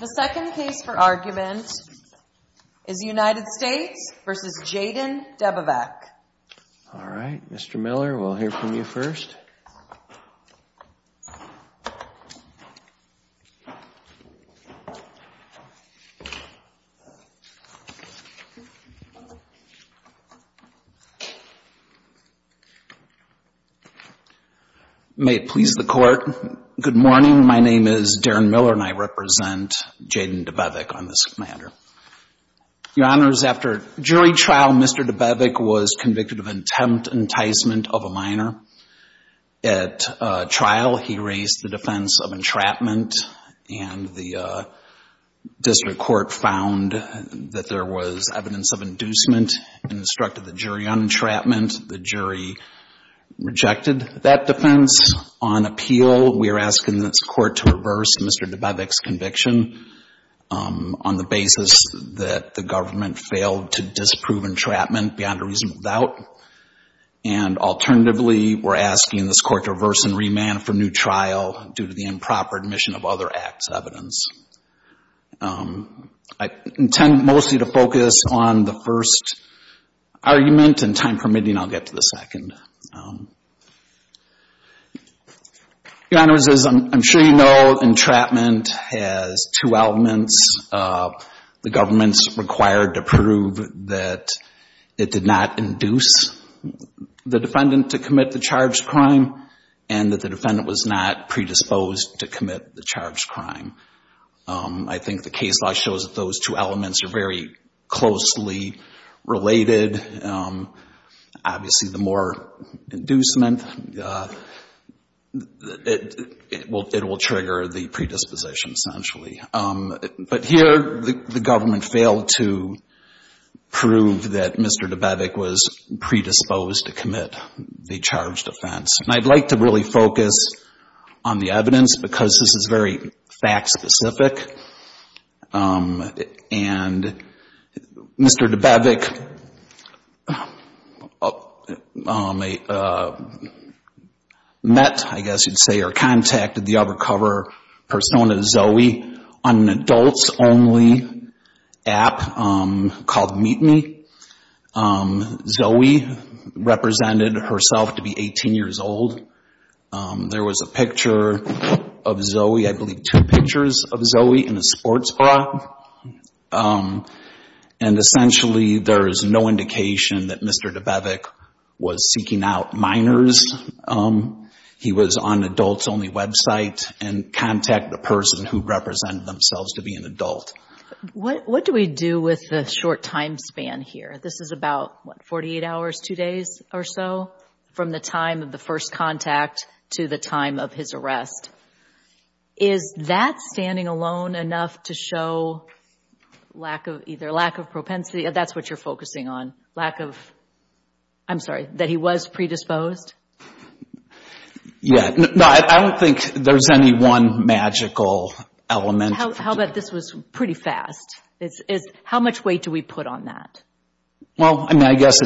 The second case for argument is United States v. Jayden Debevec. All right, Mr. Miller, we'll hear from you first. May it please the Court, good morning. My name is Darren Miller and I represent Jayden Debevec on this matter. Your Honors, after jury trial, Mr. Debevec was convicted of intent enticement of a minor. At trial, he raised the defense of entrapment and the district court found that there was evidence of inducement and instructed the jury on entrapment. The jury rejected that defense. On appeal, we are asking this Court to reverse Mr. Debevec's conviction on the basis that the government failed to disprove entrapment beyond a reasonable doubt. And alternatively, we're asking this Court to reverse and remand for new trial due to the improper admission of other acts of evidence. I intend mostly to focus on the first argument and, time permitting, I'll get to the second. Your Honors, as I'm sure you know, entrapment has two elements. The government's required to prove that it did not induce the defendant to commit the charged crime and that the defendant was not predisposed to commit the charged crime. I think the case law shows that those two elements are very closely related. Obviously, the more inducement, it will trigger the predisposition, essentially. But here, the government failed to prove that Mr. Debevec was predisposed to commit the charged offense. And I'd like to really focus on the evidence because this is very fact-specific. And Mr. Debevec met, I guess you'd say, or contacted the undercover persona Zoe on an adults-only app called Meet Me. Zoe represented herself to be 18 years old. There was a picture of Zoe, I believe two pictures of Zoe in a sports bra. And essentially, there is no indication that Mr. Debevec was seeking out minors. He was on an adults-only website and contacted the person who represented themselves to be an adult. What do we do with the short time span here? This is about, what, 48 hours, two days or so from the time of the first contact to the time of his arrest. Is that standing alone enough to show either lack of propensity, that's what you're focusing on, lack of, I'm sorry, that he was predisposed? Yeah. No, I don't think there's any one magical element. How about this was pretty fast? How much weight do we put on that? Well, I mean, I guess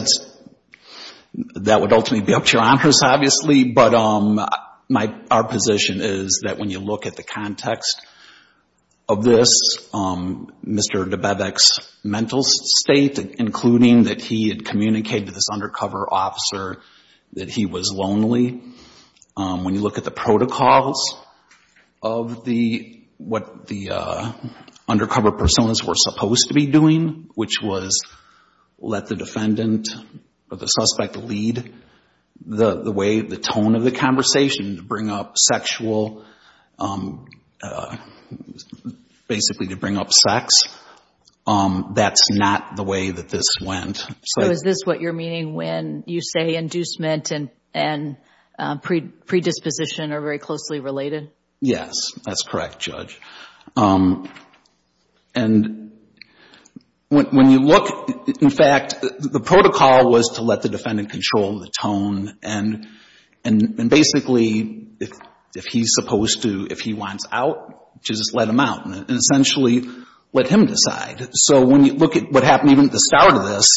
that would ultimately be up to your honors, obviously. But our position is that when you look at the context of this, Mr. Debevec's mental state, including that he had communicated to this undercover officer that he was lonely. When you look at the protocols of what the undercover personas were supposed to be doing, which was let the defendant or the suspect lead the way, the tone of the conversation, to bring up sexual, basically to bring up sex, that's not the way that this went. So is this what you're meaning when you say inducement and predisposition are very closely related? Yes, that's correct, Judge. And when you look, in fact, the protocol was to let the defendant control the tone. And basically, if he's supposed to, if he wants out, just let him out and essentially let him decide. So when you look at what happened even at the start of this,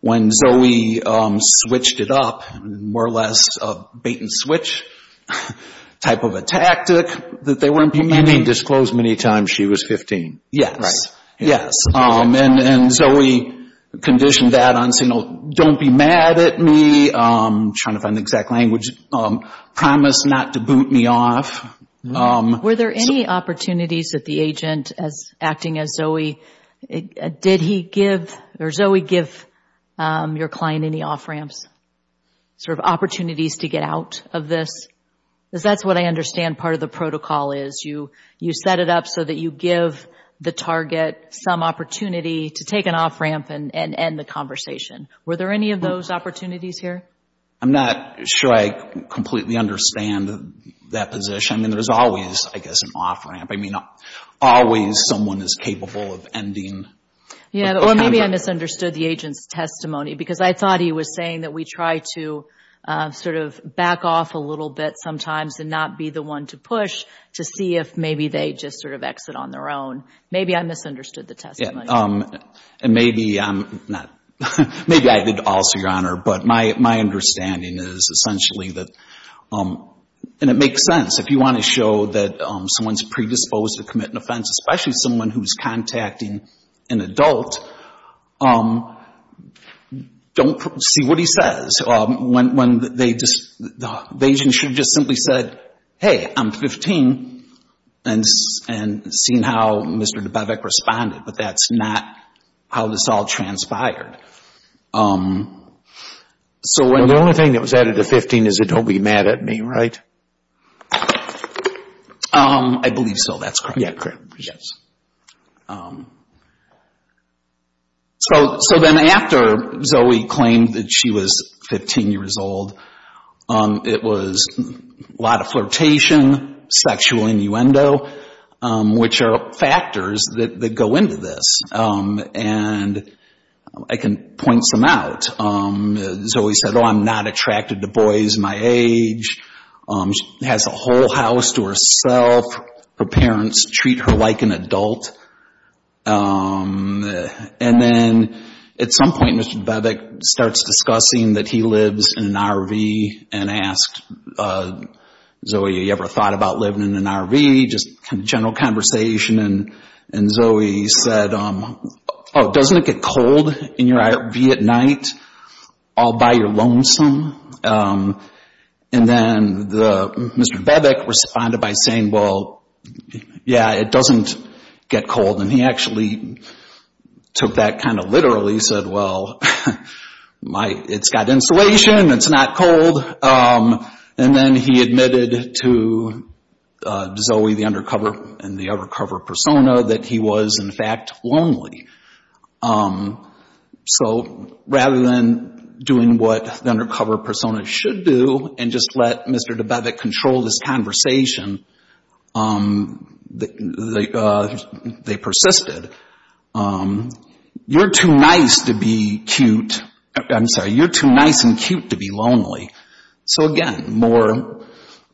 when Zoe switched it up, more or less a bait-and-switch type of a tactic that they were implying. And he disclosed many times she was 15. Yes, yes. And Zoe conditioned that on saying, don't be mad at me, trying to find the exact language, promise not to boot me off. Were there any opportunities that the agent, acting as Zoe, did he give, or Zoe give your client any off-ramps, sort of opportunities to get out of this? Because that's what I understand part of the protocol is. You set it up so that you give the target some opportunity to take an off-ramp and end the conversation. Were there any of those opportunities here? I mean, there's always, I guess, an off-ramp. I mean, always someone is capable of ending. Or maybe I misunderstood the agent's testimony, because I thought he was saying that we try to sort of back off a little bit sometimes and not be the one to push to see if maybe they just sort of exit on their own. Maybe I misunderstood the testimony. And maybe I'm not, maybe I did also, Your Honor, but my understanding is essentially that, and it makes sense. If you want to show that someone's predisposed to commit an offense, especially someone who's contacting an adult, don't see what he says. When they just, the agent should have just simply said, hey, I'm 15, and seen how Mr. Dubevic responded. But that's not how this all transpired. The only thing that was added to 15 is, don't be mad at me, right? I believe so. That's correct. So then after Zoe claimed that she was 15 years old, it was a lot of flirtation, sexual innuendo, which are factors that go into this, and I can point some out. Zoe said, oh, I'm not attracted to boys my age. She has a whole house to herself. Her parents treat her like an adult. And then at some point, Mr. Dubevic starts discussing that he lives in an RV and asked Zoe, have you ever thought about living in an RV? Kind of general conversation, and Zoe said, oh, doesn't it get cold in your RV at night all by your lonesome? And then Mr. Dubevic responded by saying, well, yeah, it doesn't get cold. And he actually took that kind of literally. He said, well, it's got insulation. It's not cold. And then he admitted to Zoe, the undercover and the undercover persona, that he was, in fact, lonely. So rather than doing what the undercover persona should do and just let Mr. Dubevic control this conversation, they persisted. You're too nice and cute to be lonely. So again, more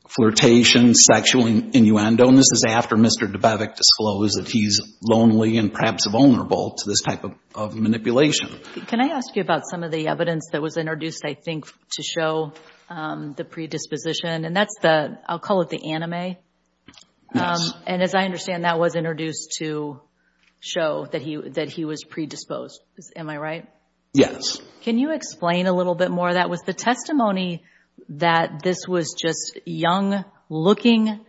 flirtation, sexual innuendo, and this is after Mr. Dubevic disclosed that he's lonely and perhaps vulnerable to this type of manipulation. Can I ask you about some of the evidence that was introduced, I think, to show the predisposition? And that's the, I'll call it the anime. And as I understand, that was introduced to show that he was predisposed. Am I right? Yes. Can you explain a little bit more of that? Was the testimony that this was just young-looking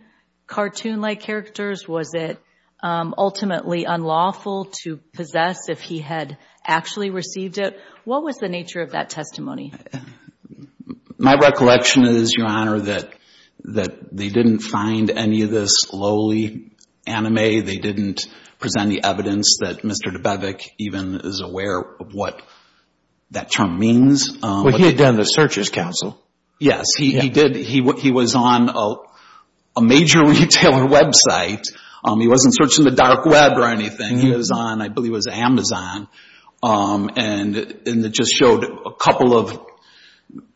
cartoon-like characters? Was it ultimately unlawful to possess if he had actually received it? What was the nature of that testimony? My recollection is, Your Honor, that they didn't find any of this lowly anime. They didn't present the evidence that Mr. Dubevic even is aware of what that term means. Well, he had done the Searchers Council. Yes, he did. He was on a major retailer website. He wasn't searching the dark web or anything. He was on, I believe it was Amazon. And it just showed a couple of,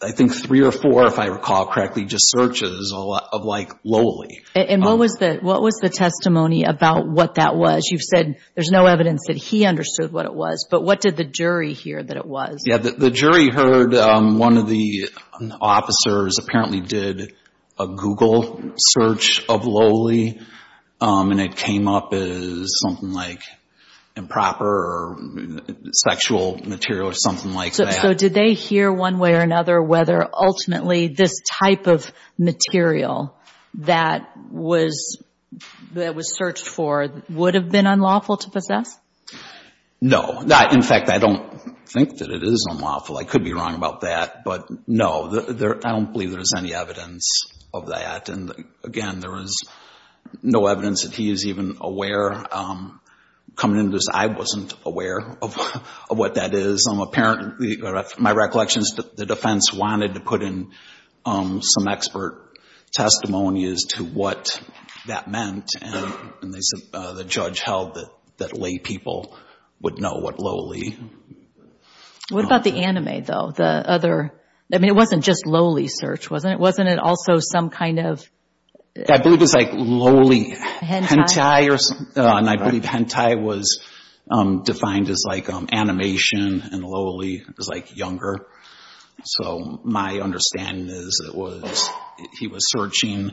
I think three or four, if I recall correctly, just searches of like lowly. And what was the testimony about what that was? You've said there's no evidence that he understood what it was, but what did the jury hear that it was? Yeah, the jury heard one of the officers apparently did a Google search of lowly. And it came up as something like improper or sexual material or something like that. So did they hear one way or another whether ultimately this type of material that was searched for would have been unlawful to possess? No. In fact, I don't think that it is unlawful. I could be wrong about that, but no. I don't believe there's any evidence of that. And again, there is no evidence that he is even aware. Coming into this, I wasn't aware of what that is. My recollection is that the defense wanted to put in some expert testimonies to what that meant. And the judge held that lay people would know what lowly meant. What about the anime, though? I mean, it wasn't just lowly search, wasn't it? Wasn't it also some kind of... I believe it was like lowly hentai. And I believe hentai was defined as like animation and lowly was like younger. So my understanding is that he was searching,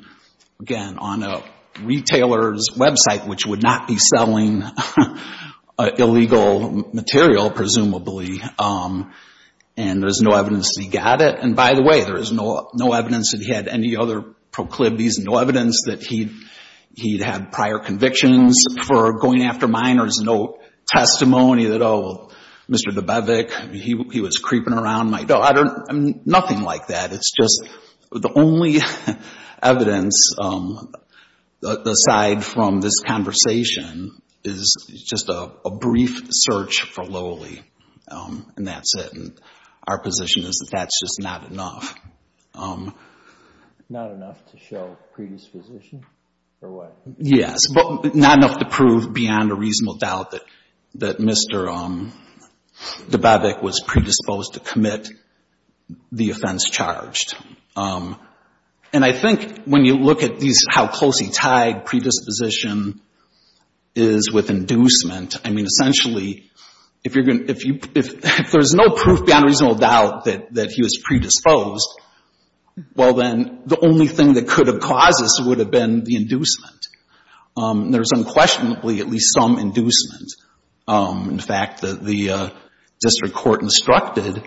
again, on a retailer's website, which would not be selling illegal material, presumably. And there's no evidence that he got it. And by the way, there is no evidence that he had any other proclivities and no evidence that he'd had prior convictions for going after minors. No testimony that, oh, Mr. Dubovik, he was creeping around. No, nothing like that. It's just the only evidence, aside from this conversation, is just a brief search for lowly. And that's it. And our position is that that's just not enough. Not enough to show predisposition or what? Yes, but not enough to prove beyond a reasonable doubt that Mr. Dubovik was predisposed to commit the offense charged. And I think when you look at how closely tied predisposition is with inducement, I mean, essentially, if you're going to if there's no proof beyond a reasonable doubt that he was predisposed, well, then the only thing that could have caused this would have been the inducement. There's unquestionably at least some inducement. In fact, the district court instructed,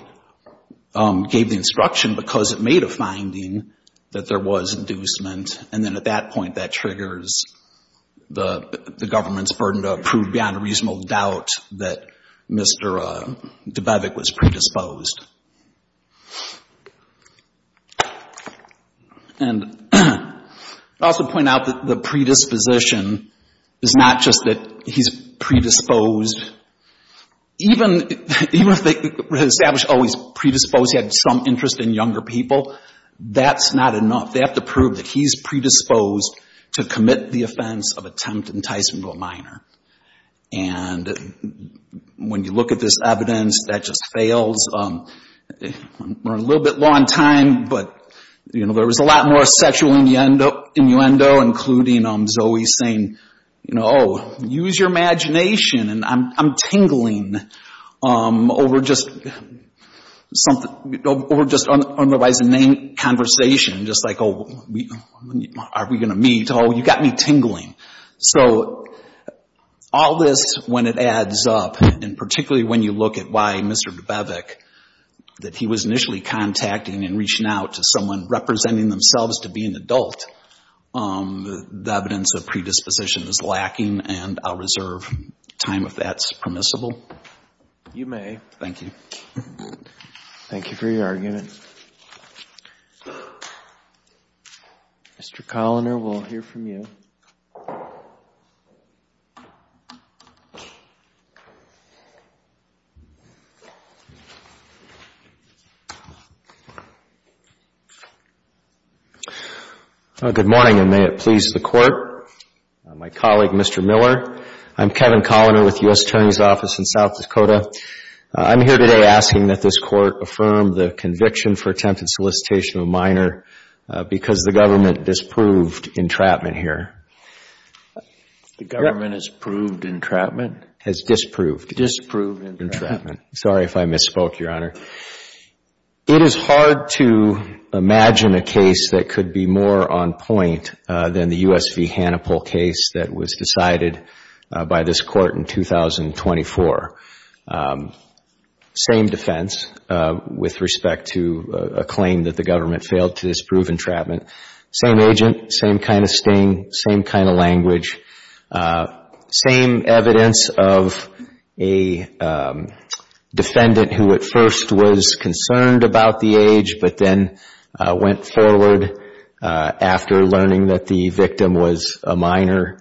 gave the instruction because it made a finding that there was inducement. And then at that point, that triggers the government's burden to prove beyond a reasonable doubt that Mr. Dubovik was predisposed. And I also point out that the predisposition is not just that he's predisposed. Even if they establish, oh, he's predisposed, he had some interest in younger people, that's not enough. They have to prove that he's predisposed to commit the offense of attempt enticement to a minor. And when you look at this evidence, that just fails. We're a little bit low on time, but there was a lot more sexual innuendo, including Zoe saying, oh, use your imagination. And I'm tingling over just otherwise inane conversation, just like, oh, are we going to meet? Oh, you got me tingling. So all this, when it adds up, and particularly when you look at why Mr. Dubovik, that he was initially contacting and reaching out to someone representing themselves to be an adult, the evidence of predisposition is lacking. And I'll reserve time if that's permissible. You may. Thank you. Thank you for your argument. Mr. Coloner, we'll hear from you. Good morning, and may it please the Court. My colleague, Mr. Miller, I'm Kevin Coloner with the U.S. Attorney's Office in South Dakota. I'm here today asking that this Court affirm the conviction for attempted solicitation of a minor because the government disproved entrapment here. The government has proved entrapment? Has disproved. Disproved entrapment. Sorry if I misspoke, Your Honor. It is hard to imagine a case that could be more on point than the U.S. v. Hannipol case that was decided by this Court in 2024. Same defense with respect to a claim that the government failed to disprove entrapment. Same agent, same kind of sting, same kind of language. Same evidence of a defendant who at first was concerned about the age, but then went forward after learning that the victim was a minor.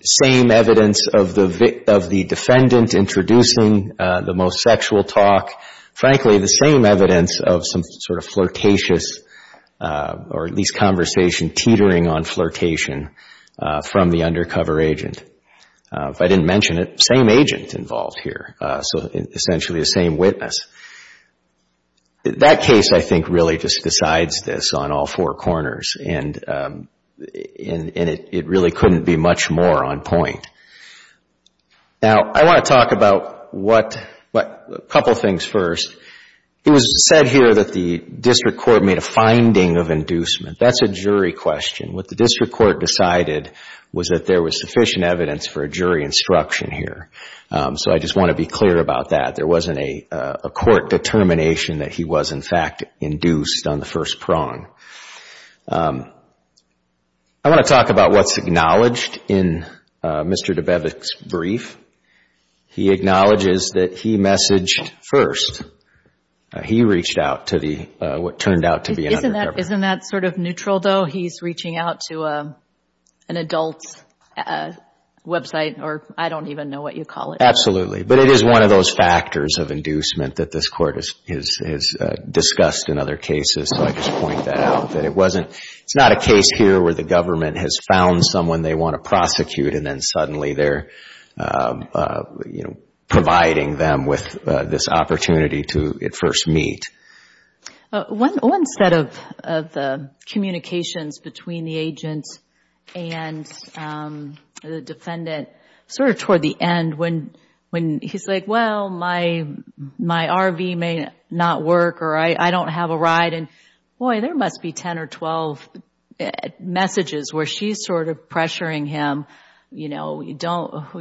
Same evidence of the defendant introducing the most sexual talk. Frankly, the same evidence of some sort of flirtatious or at least conversation teetering on flirtation from the undercover agent. If I didn't mention it, same agent involved here, so essentially the same witness. That case, I think, really just decides this on all four corners, and it really couldn't be much more on point. Now, I want to talk about a couple things first. It was said here that the district court made a finding of inducement. That's a jury question. What the district court decided was that there was sufficient evidence for a jury instruction here, so I just want to be clear about that. There wasn't a court determination that he was, in fact, induced on the first prong. I want to talk about what's acknowledged in Mr. Dabewicz's brief. He acknowledges that he messaged first. He reached out to what turned out to be an undercover agent. Isn't that sort of neutral, though? He's reaching out to an adult's website, or I don't even know what you call it. Absolutely, but it is one of those factors of inducement that this Court has discussed in other cases, so I just point that out. It's not a case here where the government has found someone they want to prosecute, and then suddenly they're providing them with this opportunity to at first meet. One set of communications between the agent and the defendant, sort of toward the end, when he's like, well, my RV may not work, or I don't have a ride, and, boy, there must be a way to get there. There must be 10 or 12 messages where she's sort of pressuring him, don't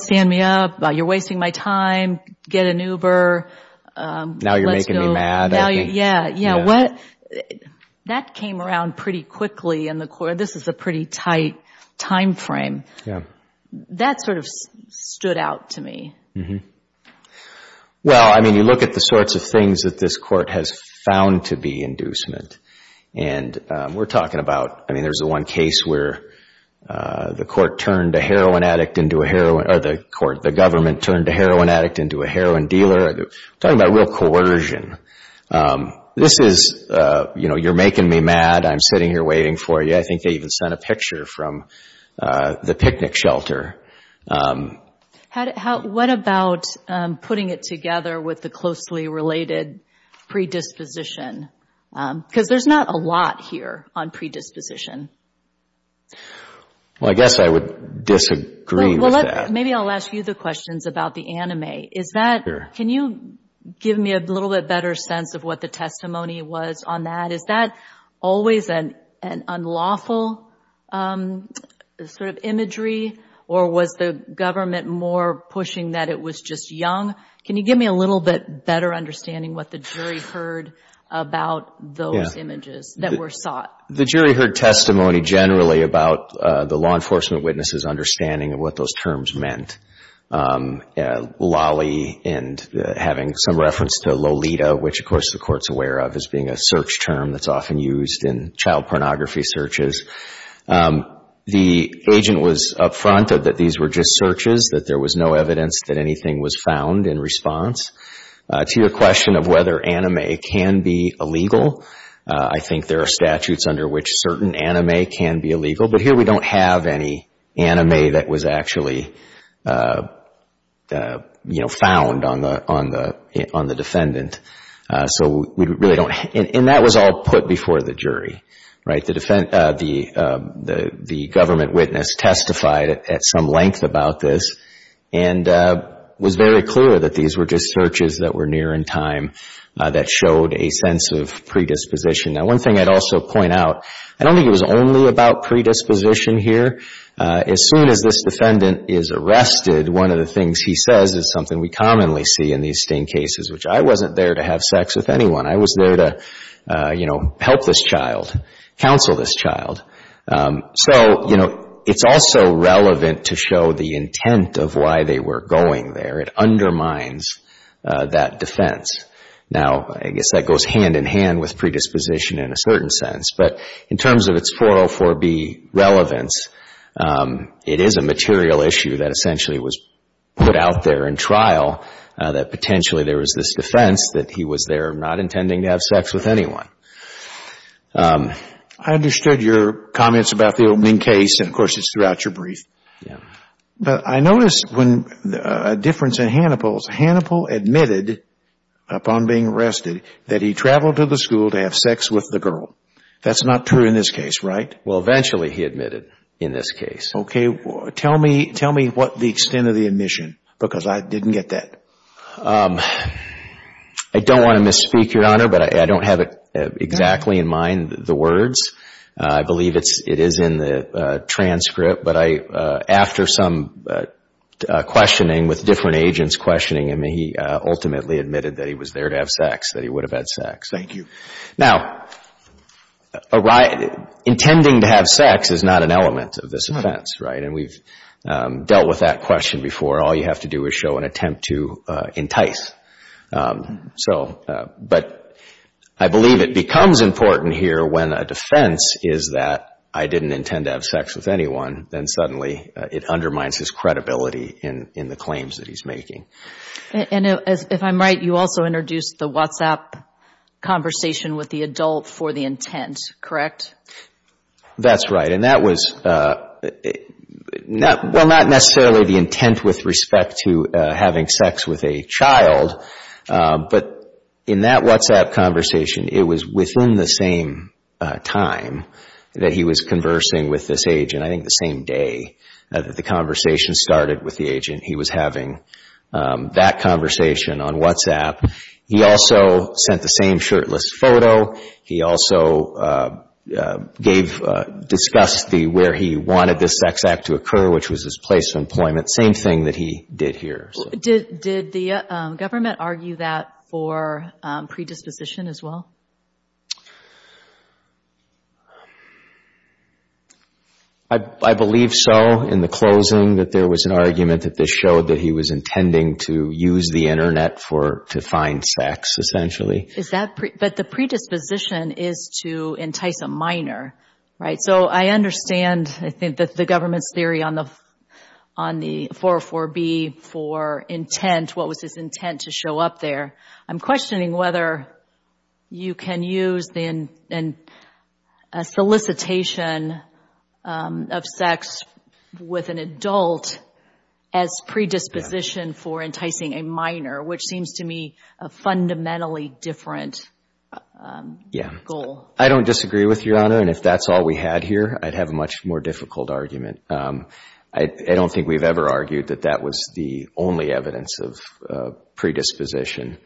stand me up, you're wasting my time, get an Uber. Now you're making me mad at me. That came around pretty quickly in the court. This is a pretty tight time frame. That sort of stood out to me. Well, I mean, you look at the sorts of things that this Court has found to be inducement, and we're talking about, I mean, there's the one case where the Court turned a heroin addict into a heroin, or the Government turned a heroin addict into a heroin dealer. We're talking about real coercion. You're making me mad. I'm sitting here waiting for you. I think they even sent a picture from the picnic shelter. What about putting it together with the closely related predisposition? Because there's not a lot here on predisposition. Well, I guess I would disagree with that. Maybe I'll ask you the questions about the anime. Can you give me a little bit better sense of what the testimony was on that? Is that always an unlawful sort of imagery, or was the Government more pushing that it was just young? Can you give me a little bit better understanding what the jury heard about those images that were sought? The jury heard testimony generally about the law enforcement witnesses' understanding of what those terms meant. Lolly and having some reference to Lolita, which, of course, the Court's aware of as being a search term. It's often used in child pornography searches. The agent was upfront that these were just searches, that there was no evidence that anything was found in response. To your question of whether anime can be illegal, I think there are statutes under which certain anime can be illegal. But here we don't have any anime that was actually found on the defendant. And that was all put before the jury. The Government witness testified at some length about this and was very clear that these were just searches that were near in time that showed a sense of predisposition. Now, one thing I'd also point out, I don't think it was only about predisposition here. As soon as this defendant is arrested, one of the things he says is something we commonly see in these sting cases, which I wasn't there. I wasn't there to have sex with anyone. I was there to, you know, help this child, counsel this child. So, you know, it's also relevant to show the intent of why they were going there. It undermines that defense. Now, I guess that goes hand in hand with predisposition in a certain sense. But in terms of its 404B relevance, it is a material issue that essentially was put out there in trial that potentially there was this defense that he was there not intending to have sex with anyone. I understood your comments about the opening case, and of course it's throughout your brief. But I noticed a difference in Hannibal's. Hannibal admitted upon being arrested that he traveled to the school to have sex with the girl. That's not true in this case, right? Well, eventually he admitted in this case. Okay. Tell me what the extent of the admission, because I didn't get that. I don't want to misspeak, Your Honor, but I don't have it exactly in mind, the words. I believe it is in the transcript, but after some questioning with different agents questioning him, he ultimately admitted that he was there to have sex, that he would have had sex. Thank you. Now, intending to have sex is not an element of this offense, right? And we've dealt with that question before. All you have to do is show an attempt to entice. So, but I believe it becomes important here when a defense is that I didn't intend to have sex with anyone, then suddenly it undermines his credibility in the claims that he's making. And if I'm right, you also introduced the WhatsApp conversation with the adult for the intent, correct? That's right, and that was, well, not necessarily the intent with respect to having sex with a child, but in that WhatsApp conversation, it was within the same time that he was conversing with this agent. I think the same day that the conversation started with the agent, he was having that conversation on WhatsApp. He also sent the same shirtless photo. He also gave, discussed where he wanted this sex act to occur, which was his place of employment. Same thing that he did here. Did the government argue that for predisposition as well? I believe so, in the closing, that there was an argument that this showed that he was intending to use the Internet to find sex, essentially. But the predisposition is to entice a minor, right? So I understand, I think, the government's theory on the 404B for intent, what was his intent to show up there. I'm questioning whether you can use a solicitation of sex with an adult as predisposition for enticing a minor, which seems to me a fundamentally different goal. I don't disagree with Your Honor, and if that's all we had here, I'd have a much more difficult argument. I don't think we've ever argued that that was the only evidence of predisposition.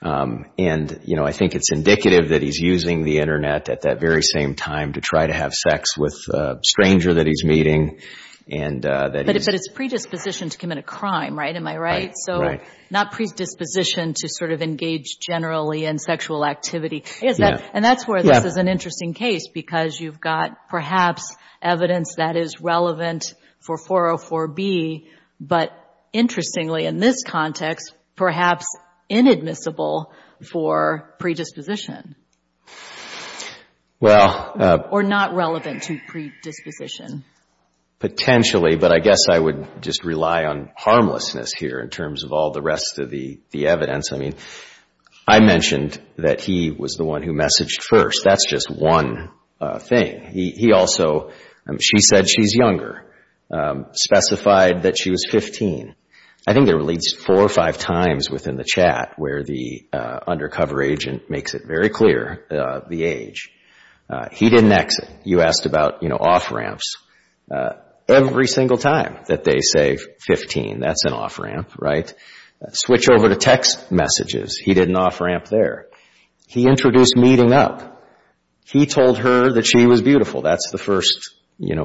And I think it's indicative that he's using the Internet at that very same time to try to have sex with a stranger that he's meeting. But it's predisposition to commit a crime, right? Am I right? So not predisposition to sort of engage generally in sexual activity. And that's where this is an interesting case, because you've got perhaps evidence that is relevant for 404B, but interestingly, in this context, perhaps inadmissible for predisposition. Or not relevant to predisposition. Potentially, but I guess I would just rely on harmlessness here in terms of all the rest of the evidence. I mean, I mentioned that he was the one who messaged first. That's just one thing. He also, she said she's younger, specified that she was 15. I think there were at least four or five times within the chat where the undercover agent makes it very clear the age. Every single time that they say 15, that's an off-ramp, right? Switch over to text messages. He did an off-ramp there. He introduced meeting up. He told her that she was beautiful. That's the first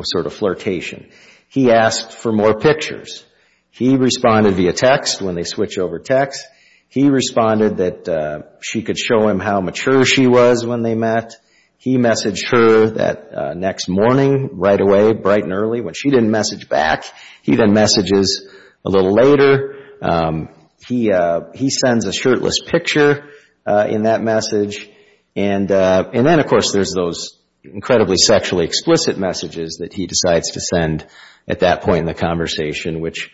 sort of flirtation. He asked for more pictures. He responded via text when they switch over text. He responded that she could show him how mature she was when they met. He messaged her that next morning, right away, bright and early, when she didn't message back. He then messages a little later. He sends a shirtless picture in that message. And then, of course, there's those incredibly sexually explicit messages that he decides to send at that point in the conversation, which,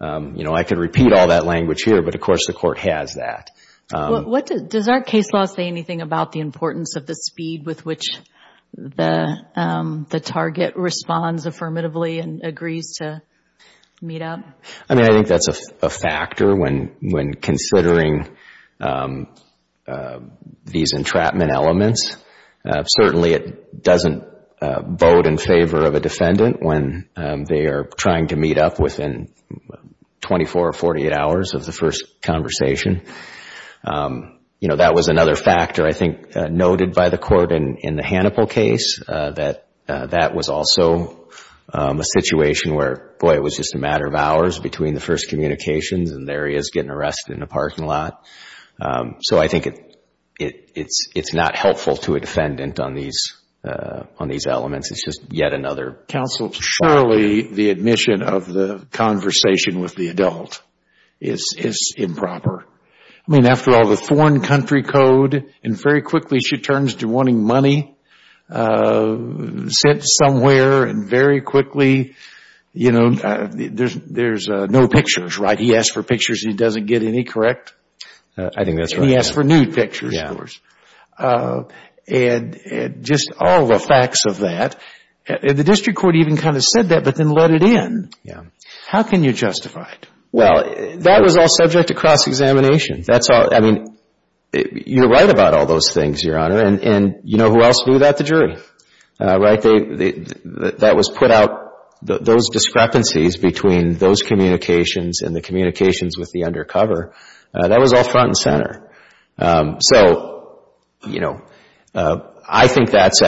you know, I could repeat all that language here, but, of course, the court has that. Does our case law say anything about the importance of the speed with which the target responds affirmatively and agrees to meet up? I mean, I think that's a factor when considering these entrapment elements. Certainly, it doesn't vote in favor of a defendant when they are trying to meet up with him. It's not helpful to a defendant in 24 or 48 hours of the first conversation. You know, that was another factor, I think, noted by the court in the Hannibal case, that that was also a situation where, boy, it was just a matter of hours between the first communications and there he is getting arrested in a parking lot. So I think it's not helpful to a defendant on these elements. I guess it's just yet another point. Counsel, surely the admission of the conversation with the adult is improper. I mean, after all, the foreign country code, and very quickly she turns to wanting money, sits somewhere and very quickly, you know, there's no pictures, right? He asks for pictures, he doesn't get any, correct? I think that's right. He asks for nude pictures, of course, and just all the facts of that. The district court even kind of said that, but then let it in. How can you justify it? Well, that was all subject to cross-examination. I mean, you're right about all those things, Your Honor, and you know who else knew that? The jury. Right? That was put out, those discrepancies between those communications and the communications with the undercover, that was all front and center. So, you know, I think that's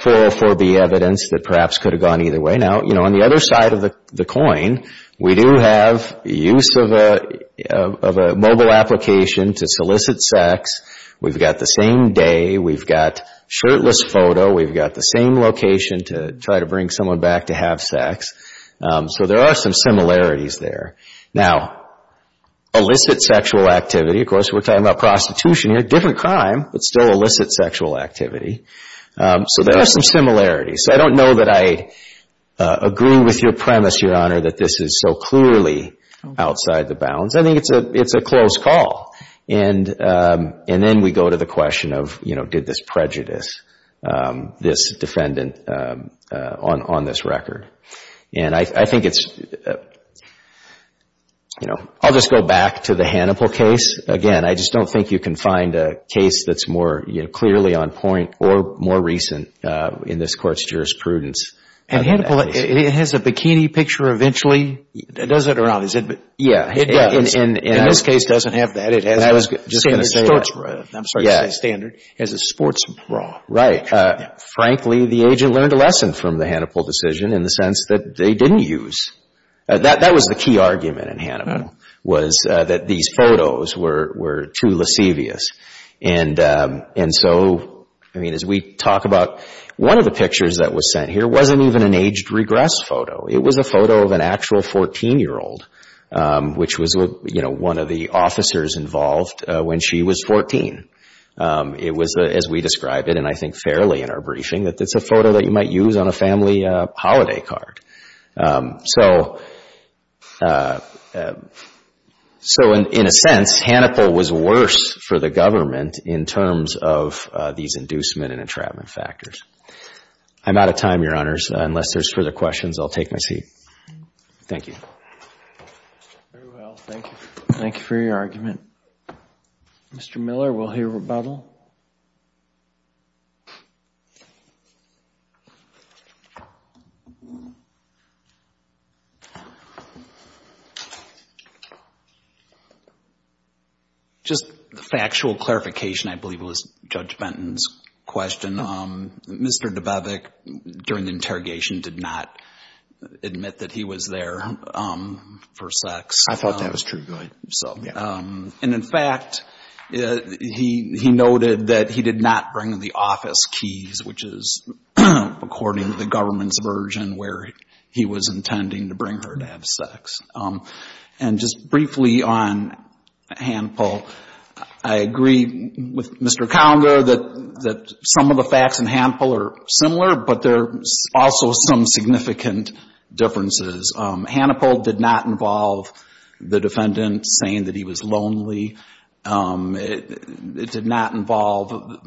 full 4B evidence that perhaps could have gone either way. Now, on the other side of the coin, we do have use of a mobile application to solicit sex. We've got the same day, we've got shirtless photo, we've got the same location to try to bring someone back to have sex, so there are some similarities there. Now, illicit sexual activity, of course, we're talking about prostitution here, different crime, but still illicit sexual activity, so there are some similarities. So I don't know that I agree with your premise, Your Honor, that this is so clearly outside the bounds. I think it's a close call, and then we go to the question of, you know, did this prejudice this defendant on this record? And I think it's, you know, I'll just go back to the Hannibal case. Again, I just don't think you can find a case that's more clearly on point or more recent in this Court's jurisprudence. And Hannibal, it has a bikini picture eventually, does it or not? In this case, it doesn't have that, it has a standard sports bra. Right. Frankly, the agent learned a lesson from the Hannibal decision in the sense that they didn't use. That was the key argument in Hannibal, was that these photos were too lascivious. And so, I mean, as we talk about, one of the pictures that was sent here wasn't even an aged regress photo. It was a photo of an actual 14-year-old, which was, you know, one of the officers involved when she was 14. It was, as we describe it, and I think fairly in our briefing, that it's a photo that you might use on a family holiday card. So in a sense, Hannibal was worse for the government in terms of these inducement and entrapment factors. I'm out of time, Your Honors. Unless there's further questions, I'll take my seat. Thank you. Very well, thank you. Thank you for your argument. Mr. Miller, we'll hear rebuttal. Just factual clarification, I believe it was Judge Benton's question. Mr. Dubovik, during the interrogation, did not admit that he was there for sex. I thought that was true. And in fact, he noted that he did not bring the office keys, which is according to the government's version, where he was intending to bring her to have sex. And just briefly on Hannibal, I agree with Mr. Calder that some of the facts in Hannibal are similar, but there are also some significant differences. Hannibal did not involve the defendant saying that he was lonely. It did not involve...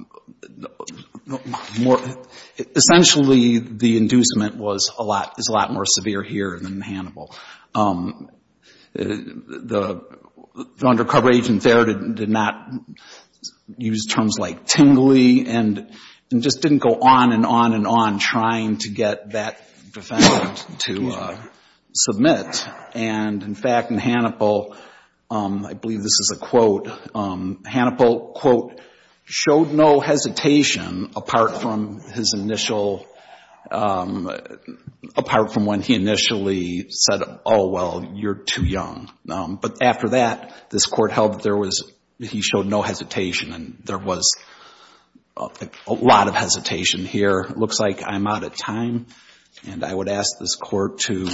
Essentially, the inducement was a lot more severe here than in Hannibal. The undercover agent there did not use terms like tingly and just didn't go on and on and on trying to get that defendant to have sex. And in fact, in Hannibal, I believe this is a quote, Hannibal, quote, showed no hesitation apart from his initial... Apart from when he initially said, oh, well, you're too young. But after that, this Court held that he showed no hesitation, and there was a lot of hesitation here. It looks like I'm out of time, and I would ask this Court to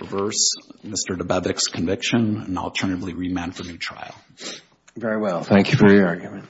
reverse Mr. Dababek's conviction and alternatively remand for new trial. Thank you for your argument.